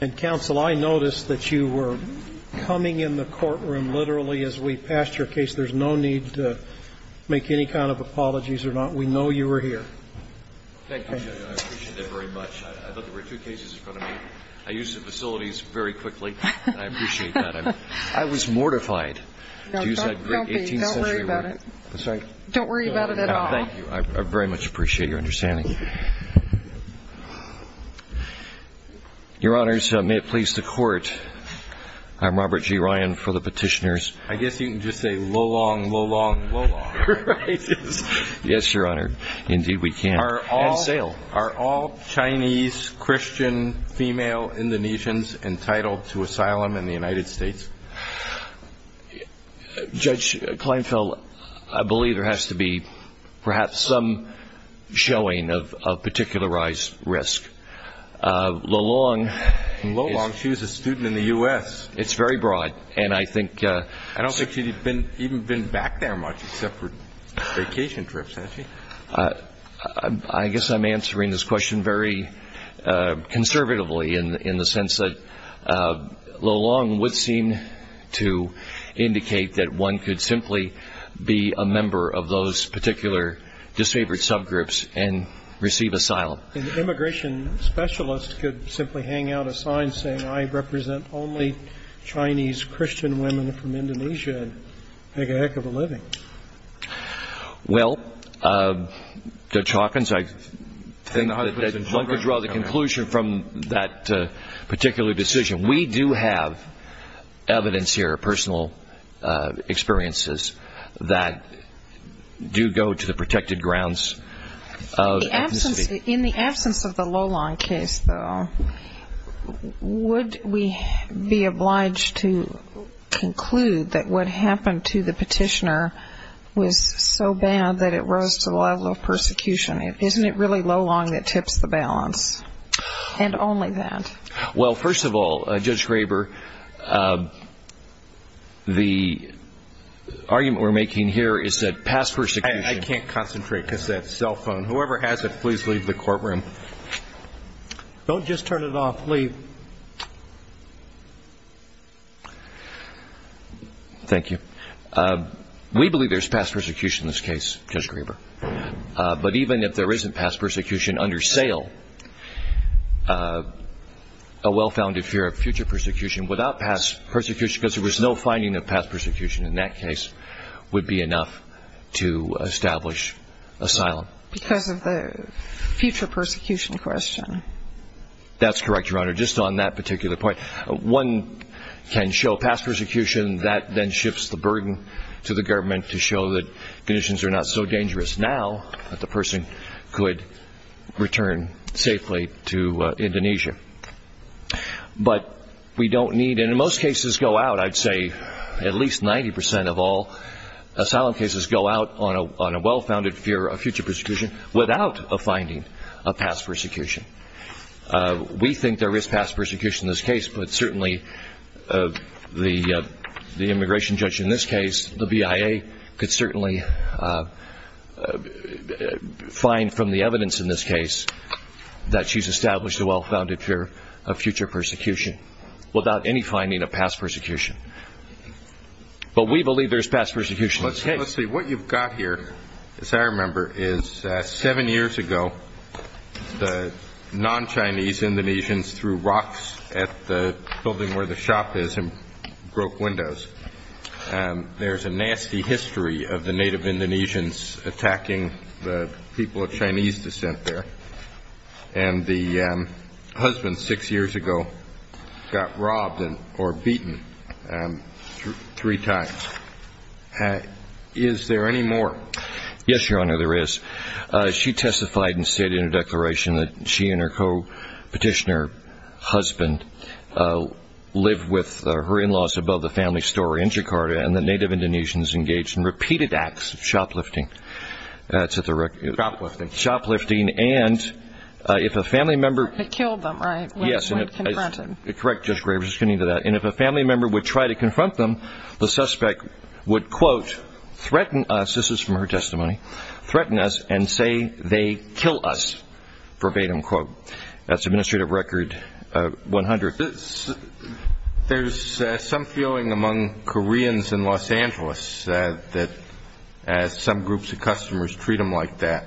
And counsel, I noticed that you were coming in the courtroom literally as we passed your case. There's no need to make any kind of apologies or not. We know you were here. Thank you, Judge. I appreciate that very much. I thought there were two cases you were going to make. I used the facilities very quickly. I appreciate that. I was mortified to use that great 18th century word. Don't worry about it. Don't worry about it at all. Thank you. I very much appreciate your understanding. Your Honors, may it please the Court, I'm Robert G. Ryan for the Petitioners. I guess you can just say, lo-long, lo-long, lo-long. Yes, Your Honor. Indeed, we can. Are all Chinese, Christian, female Indonesians entitled to asylum in the United States? Judge Kleinfeld, I believe there has to be perhaps some showing of particularized risk. Lo-long is Lo-long, she was a student in the U.S. It's very broad. I don't think she's even been back there much except for vacation trips, has she? I guess I'm answering this question very conservatively in the sense that lo-long would seem to indicate that one could simply be a member of those particular disfavored subgroups and receive asylum. An immigration specialist could simply hang out a sign saying, I represent only Chinese Christian women from Indonesia and make a heck of a living. Well, Judge Hawkins, I think that one could draw the conclusion from that particular decision. We do have evidence here, personal experiences that do go to the protected grounds of ethnicity. In the absence of the lo-long case, though, would we be obliged to conclude that what was so bad that it rose to the level of persecution? Isn't it really lo-long that tips the balance? And only that. Well, first of all, Judge Graber, the argument we're making here is that past persecution I can't concentrate because of that cell phone. Whoever has it, please leave the courtroom. Don't just turn it off. Leave. Thank you. We believe there's past persecution in this case, Judge Graber. But even if there isn't past persecution under sale, a well-founded fear of future persecution without past persecution, because there was no finding of past persecution in that case, would be enough to establish asylum. Because of the future persecution question. That's correct, Your Honor, just on that particular point. One can show past persecution, that then shifts the burden to the government to show that conditions are not so dangerous now that the person could return safely to Indonesia. But we don't need, and in most cases go out, I'd say at least 90% of all asylum cases go out on a well-founded fear of future persecution without a finding of past persecution. We think there is past persecution in this case, but certainly the immigration judge in this case, the BIA, could certainly find from the evidence in this case that she's established a well-founded fear of future persecution without any finding of past persecution. But we believe there's past persecution in this case. Let's see, what you've got here, as I remember, is seven years ago, the non-Chinese Indonesians threw rocks at the building where the shop is and broke windows. There's a nasty history of the native Indonesians attacking the people of Chinese descent there. And the husband, six years ago, got robbed or beaten three times. Is there any more? Yes, Your Honor, there is. She testified and said in a declaration that she and her co-petitioner husband live with her in-laws above the family store in Jakarta, and the native Indonesians engaged in repeated acts of shoplifting. Shoplifting. Shoplifting. Shoplifting. And if a family member... They killed them, right? Yes. When they confronted. Correct, Judge Graves. I was just getting to that. And if a family member would try to confront them, the suspect would, quote, threaten us, this is from her testimony, threaten us and say they kill us, verbatim, quote. That's Administrative Record 100. Your Honor, there's some feeling among Koreans in Los Angeles that as some groups of customers treat them like that,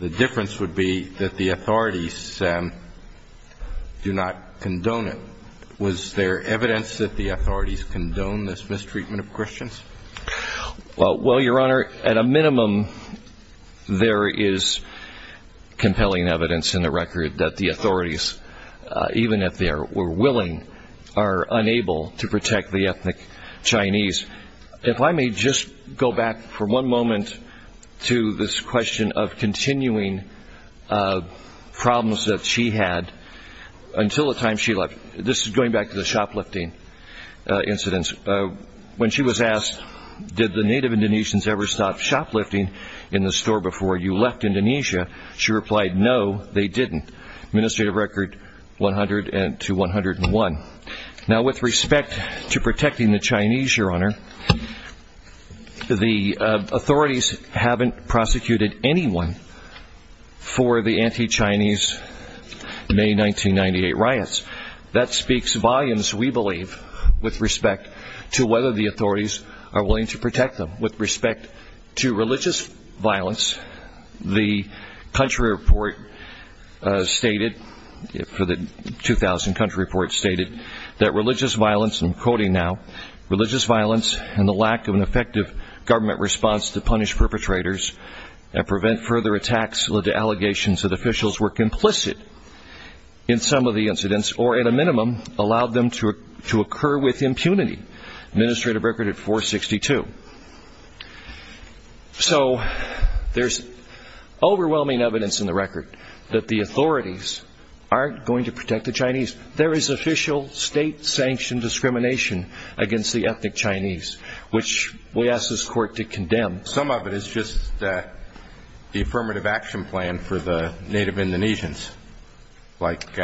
the difference would be that the authorities do not condone it. Was there evidence that the authorities condone this mistreatment of Christians? Well, Your Honor, at a minimum, there is compelling evidence in the record that the authorities, even if they were willing, are unable to protect the ethnic Chinese. If I may just go back for one moment to this question of continuing problems that she had until the time she left. This is going back to the shoplifting incidents. When she was asked, did the native Indonesians ever stop shoplifting in the store before you left Indonesia, she replied, no, they didn't. Administrative Record 100 to 101. Now with respect to protecting the Chinese, Your Honor, the authorities haven't prosecuted anyone for the anti-Chinese May 1998 riots. That speaks volumes, we believe, with respect to whether the authorities are willing to protect them. Now with respect to religious violence, the country report stated, the 2000 country report stated that religious violence, and I'm quoting now, religious violence and the lack of an effective government response to punish perpetrators and prevent further attacks led to allegations that officials were complicit in some of the incidents, or at a minimum, allowed them to So there's overwhelming evidence in the record that the authorities aren't going to protect the Chinese. There is official state-sanctioned discrimination against the ethnic Chinese, which we ask this court to condemn. Some of it is just the affirmative action plan for the native Indonesians, like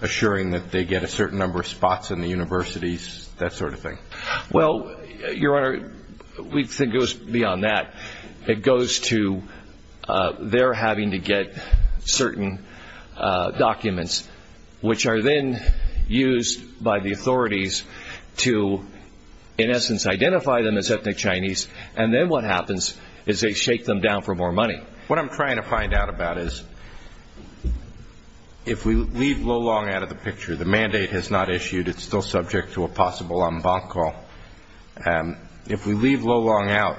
assuring that they get a certain number of spots in the universities, that sort of thing. Well, Your Honor, we think it goes beyond that. It goes to their having to get certain documents, which are then used by the authorities to, in essence, identify them as ethnic Chinese, and then what happens is they shake them down for more money. What I'm trying to find out about is, if we leave Lo Long out of the picture, the mandate has not issued. It's still subject to a possible en banc call. If we leave Lo Long out,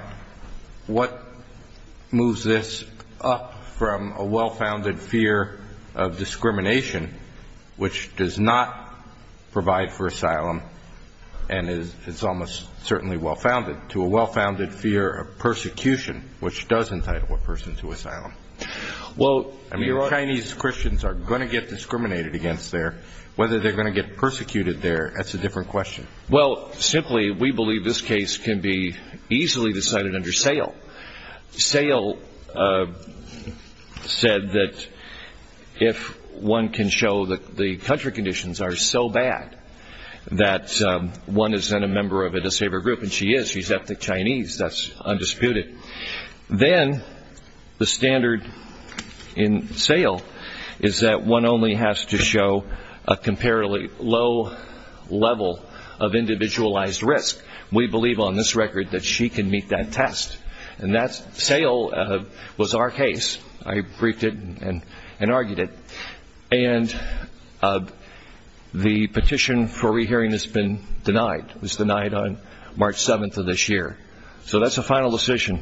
what moves this up from a well-founded fear of discrimination, which does not provide for asylum, and is almost certainly well-founded, to a well-founded fear of persecution, which does entitle a person to asylum? Well, Your Honor, Chinese Christians are going to get discriminated against there, whether they're going to get persecuted there, that's a different question. Well, simply, we believe this case can be easily decided under SAIL. SAIL said that if one can show that the country conditions are so bad that one is then a member of a disabled group, and she is, she's ethnic Chinese, that's undisputed, then the standard in SAIL is that one only has to show a comparatively low level of individualized risk. We believe on this record that she can meet that test, and SAIL was our case. I briefed it and argued it, and the petition for re-hearing has been denied, was denied on March 7th of this year. So that's a final decision,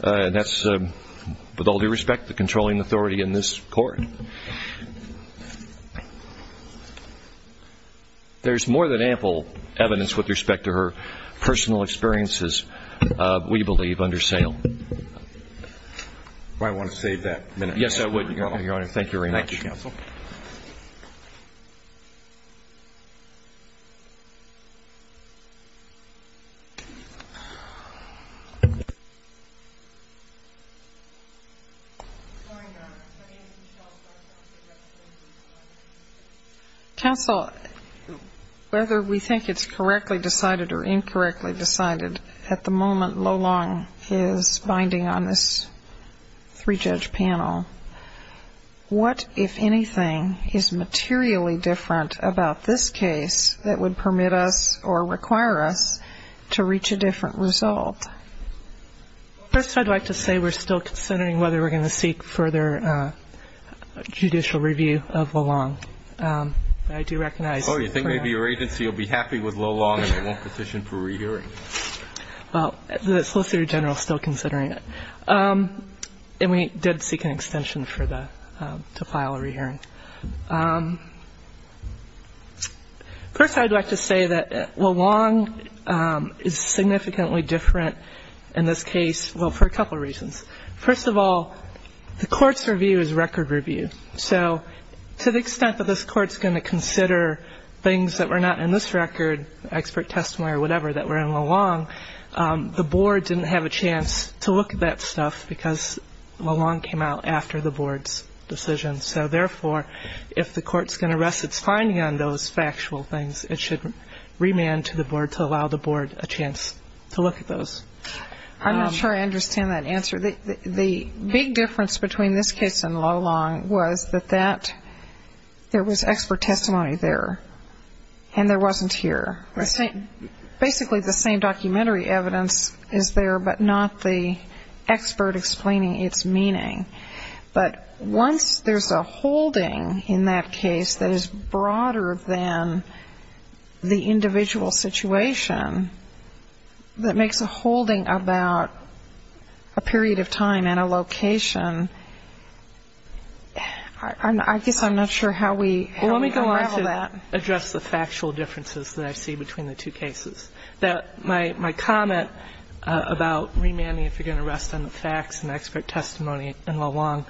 and that's, with all due respect, the controlling authority in this court. There's more than ample evidence with respect to her personal experiences, we believe, under SAIL. Well, I want to save that minute. Yes, I would, Your Honor. Thank you very much. Thank you, counsel. Counsel, whether we think it's correctly decided or incorrectly decided, at the moment everything is materially different about this case that would permit us or require us to reach a different result. First, I'd like to say we're still considering whether we're going to seek further judicial review of Lo Long. I do recognize that. Oh, you think maybe your agency will be happy with Lo Long and it won't petition for re-hearing? Well, the Solicitor General is still considering it, and we did seek an extension for the, to file a re-hearing. First, I'd like to say that Lo Long is significantly different in this case, well, for a couple reasons. First of all, the court's review is a record review, so to the extent that this court's going to consider things that were not in this record, expert testimony or whatever, that were in Lo Long, the board didn't have a chance to look at that stuff because Lo Long's decision. So therefore, if the court's going to rest its finding on those factual things, it should remand to the board to allow the board a chance to look at those. I'm not sure I understand that answer. The big difference between this case and Lo Long was that that, there was expert testimony there, and there wasn't here. Basically the same documentary evidence is there, but not the expert explaining its meaning. But once there's a holding in that case that is broader than the individual situation, that makes a holding about a period of time and a location, I guess I'm not sure how we, how we unravel that. Well, let me go on to address the factual differences that I see between the two cases. My comment about remanding if you're going to rest on the facts and expert testimony in Lo Long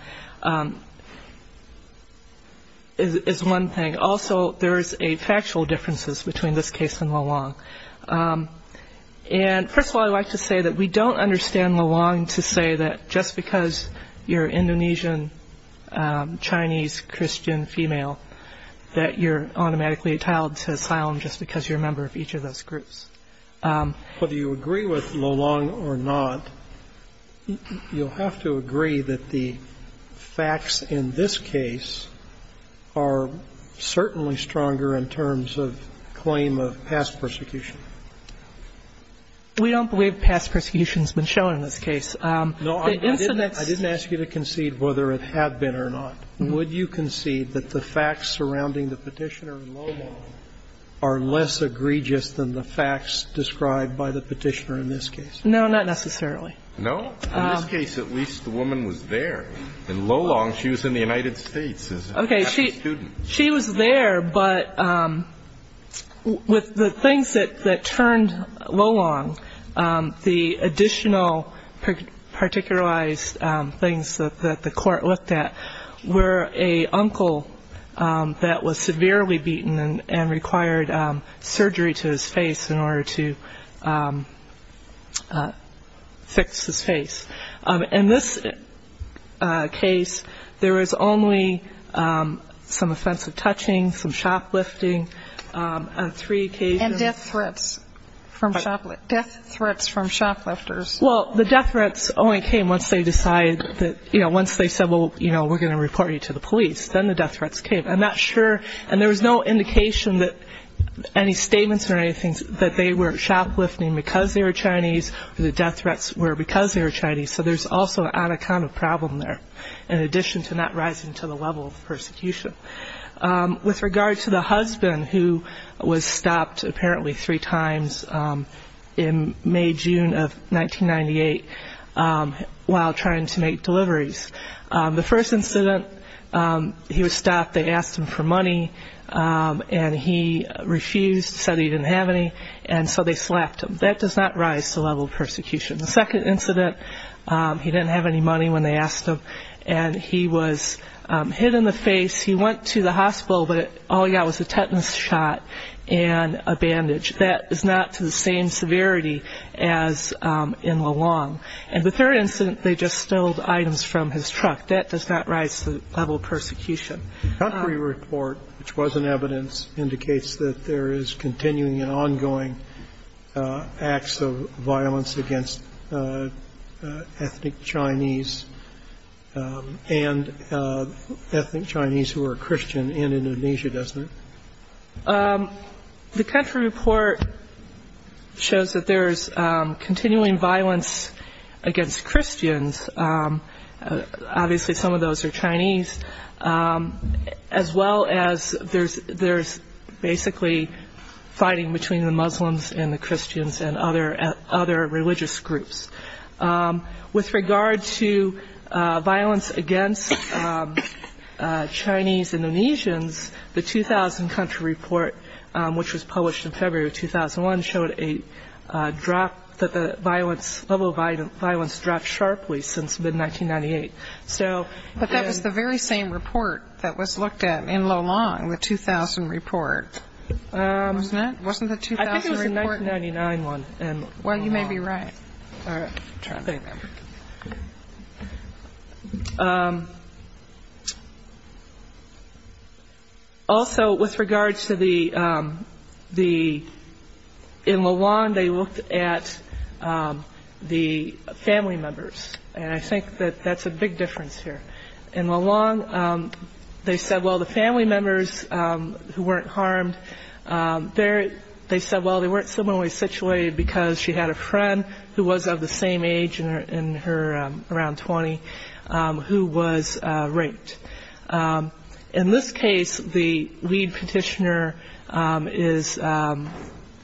is one thing. Also, there's a factual differences between this case and Lo Long. And first of all, I'd like to say that we don't understand Lo Long to say that just because you're Indonesian, Chinese, Christian, female, that you're automatically entitled to asylum just because you're a member of each of those groups. Whether you agree with Lo Long or not, you'll have to agree that the facts in this case are certainly stronger in terms of claim of past persecution. We don't believe past persecution has been shown in this case. No, I didn't ask you to concede whether it had been or not. Would you concede that the facts surrounding the Petitioner in Lo Long are less egregious than the facts described by the Petitioner in this case? No, not necessarily. No? In this case, at least the woman was there. In Lo Long, she was in the United States as a happy student. Okay, she was there, but with the things that turned Lo Long, the additional particularized things that the Court looked at were a uncle that was severely beaten and required surgery to his face in order to fix his face. In this case, there was only some offensive touching, some shoplifting on three occasions. And death threats from shoplifters. Well, the death threats only came once they decided that, you know, once they said, well, you know, we're going to report you to the police. Then the death threats came. I'm not sure. And there was no indication that any statements or anything that they were shoplifting because they were Chinese or the death threats were because they were Chinese. So there's also an anaconda problem there in addition to not rising to the level of persecution. With regard to the husband who was stopped apparently three times in May, June of 1998 while trying to make deliveries, the first incident he was stopped, they asked him for money and he refused, said he didn't have any, and so they slapped him. That does not rise to the level of persecution. The second incident, he didn't have any money when they asked him and he was hit in the face. He went to the hospital, but all he got was a tetanus shot and a bandage. That is not to the same severity as in Lo Long. And the third incident, they just stole items from his truck. That does not rise to the level of persecution. The country report, which was in evidence, indicates that there is continuing and ongoing acts of violence against ethnic Chinese and ethnic Chinese who are Christian in Indonesia, doesn't it? The country report shows that there is continuing violence against Christians. Obviously, some of those are Chinese, as well as there is basically fighting between the Muslims and the Christians and other religious groups. With regard to violence against Chinese Indonesians, the 2000 country report, which was published in February 2001, showed that the level of violence dropped sharply since mid-1998. But that was the very same report that was looked at in Lo Long, the 2000 report, wasn't it? I think it was the 1999 one. Well, you may be right. All right. Also, with regards to the – in Lo Long, they looked at the family members. And I think that that's a big difference here. In Lo Long, they said, well, the family members who weren't harmed, they said, well, they weren't similarly situated because she had a friend who was of the same age in her – around 20 who was raped. In this case, the lead petitioner is in her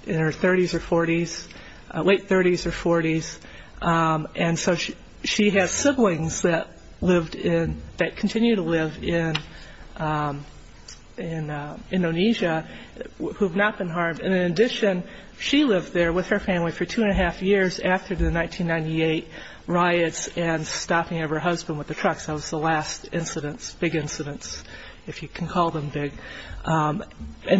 30s or 40s – late 30s or 40s. And so she has siblings that lived in – that continue to live in Indonesia who have not been harmed. And in addition, she lived there with her family for two-and-a-half years after the 1998 riots and stopping of her husband with the trucks. That was the last incidents – big incidents, if you can call them big. And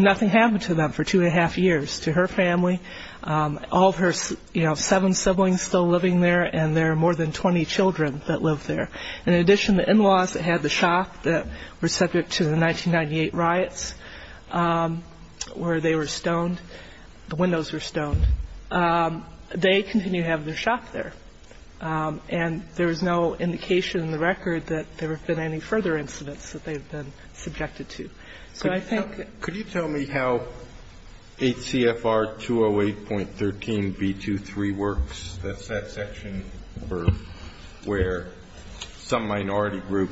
nothing happened to them for two-and-a-half years. To her family, all of her – you know, seven siblings still living there, and there are more than 20 children that live there. And in addition, the in-laws that had the shop that were subject to the 1998 riots, where they were stoned – the windows were stoned – they continue to have their shop there. And there is no indication in the record that there have been any further incidents that they've been subjected to. So I think – Could you tell me how HCFR 208.13b23 works? That's that section where some minority group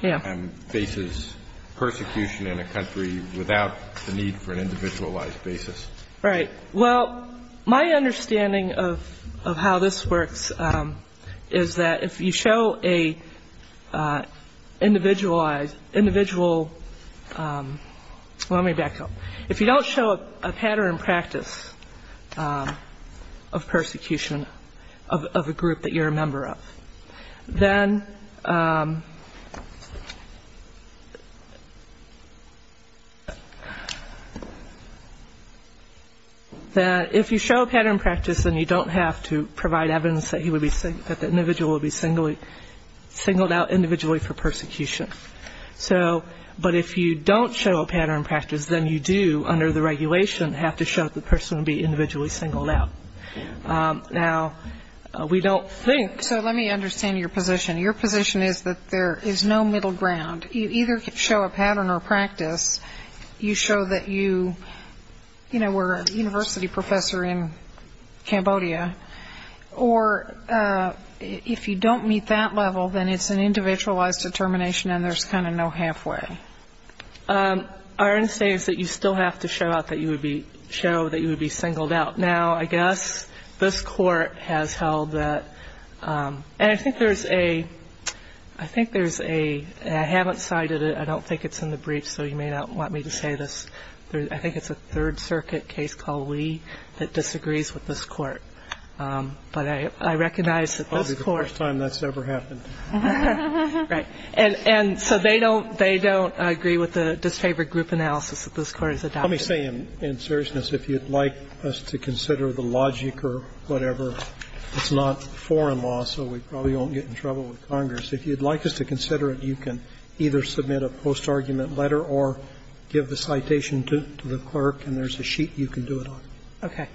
faces persecution in a country without the need for an individualized basis. Right. Well, my understanding of how this works is that if you show a individualized – individual – well, let me back up. If you don't show a pattern in practice of persecution of a group that you're a member of, then – then if you show a pattern in practice, then you don't have to provide evidence that he would be – that the individual would be singled out individually for persecution. So – but if you don't show a pattern in practice, then you do, under the regulation, have to show that the person would be individually singled out. Now, we don't think – So let me understand your position. Your position is that there is no middle ground. You either show a pattern or practice. You show that you – you know, we're a university professor in Cambodia. Or if you don't meet that level, then it's an individualized determination and there's kind of no halfway. Our understanding is that you still have to show out that you would be – show that you would be singled out. Now, I guess this Court has held that – and I think there's a – I think there's a – and I haven't cited it. I don't think it's in the brief, so you may not want me to say this. I think it's a Third Circuit case called Lee that disagrees with this Court. But I recognize that this Court – Probably the first time that's ever happened. Right. And so they don't – they don't agree with the disfavored group analysis that this Court has adopted. Let me say in seriousness, if you'd like us to consider the logic or whatever – it's not foreign law, so we probably won't get in trouble with Congress. If you'd like us to consider it, you can either submit a post-argument letter or give the citation to the clerk and there's a sheet you can do it on. Okay.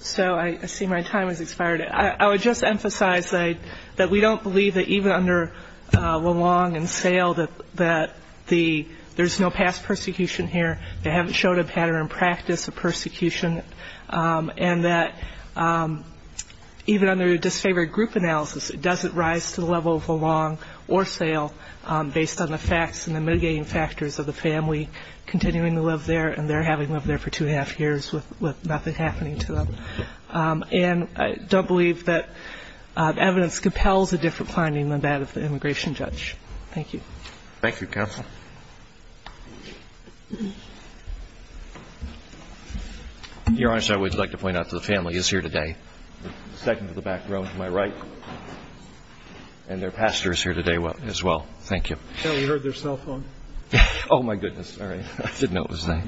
So I see my time has expired. I would just emphasize that we don't believe that even under Lalong and Sale that the – there's no past persecution here. They haven't showed a pattern of practice of persecution. And that even under a disfavored group analysis, it doesn't rise to the level of Lalong or Sale based on the facts and the mitigating factors of the family continuing to live there and their having lived there for two and a half years with nothing happening to them. And I don't believe that evidence compels a different finding than that of the immigration judge. Thank you. Thank you, counsel. Your Honor, sir, I would like to point out that the family is here today. The second to the back row to my right. And their pastor is here today as well. Thank you. We heard their cell phone. Oh, my goodness. Sorry. I didn't know it was there.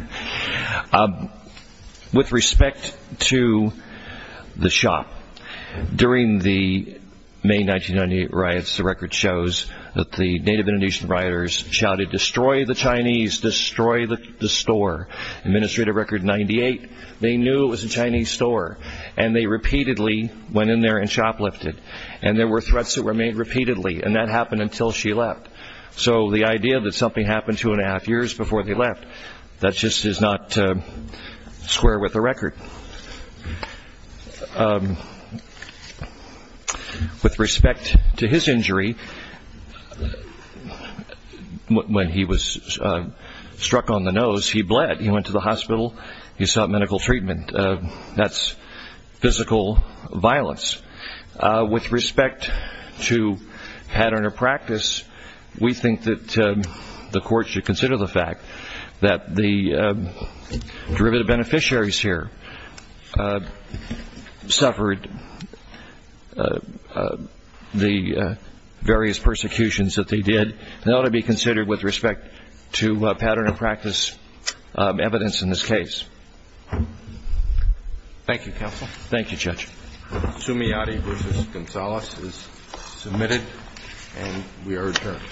With respect to the shop, during the May 1998 riots, the record shows that the Native Indonesian rioters shouted, destroy the Chinese, destroy the store. Administrative record 98, they knew it was a Chinese store. And they repeatedly went in there and shoplifted. And there were threats that were made repeatedly. And that happened until she left. So the idea that something happened two and a half years before they left, that just is not square with the record. With respect to his injury, when he was struck on the nose, he bled. He went to the hospital. He sought medical treatment. And that's physical violence. With respect to pattern of practice, we think that the court should consider the fact that the derivative beneficiaries here suffered the various persecutions that they did. And that ought to be considered with respect to pattern of practice evidence in this case. Thank you, Counsel. Thank you, Judge. Sumiati v. Gonzalez is submitted, and we are adjourned.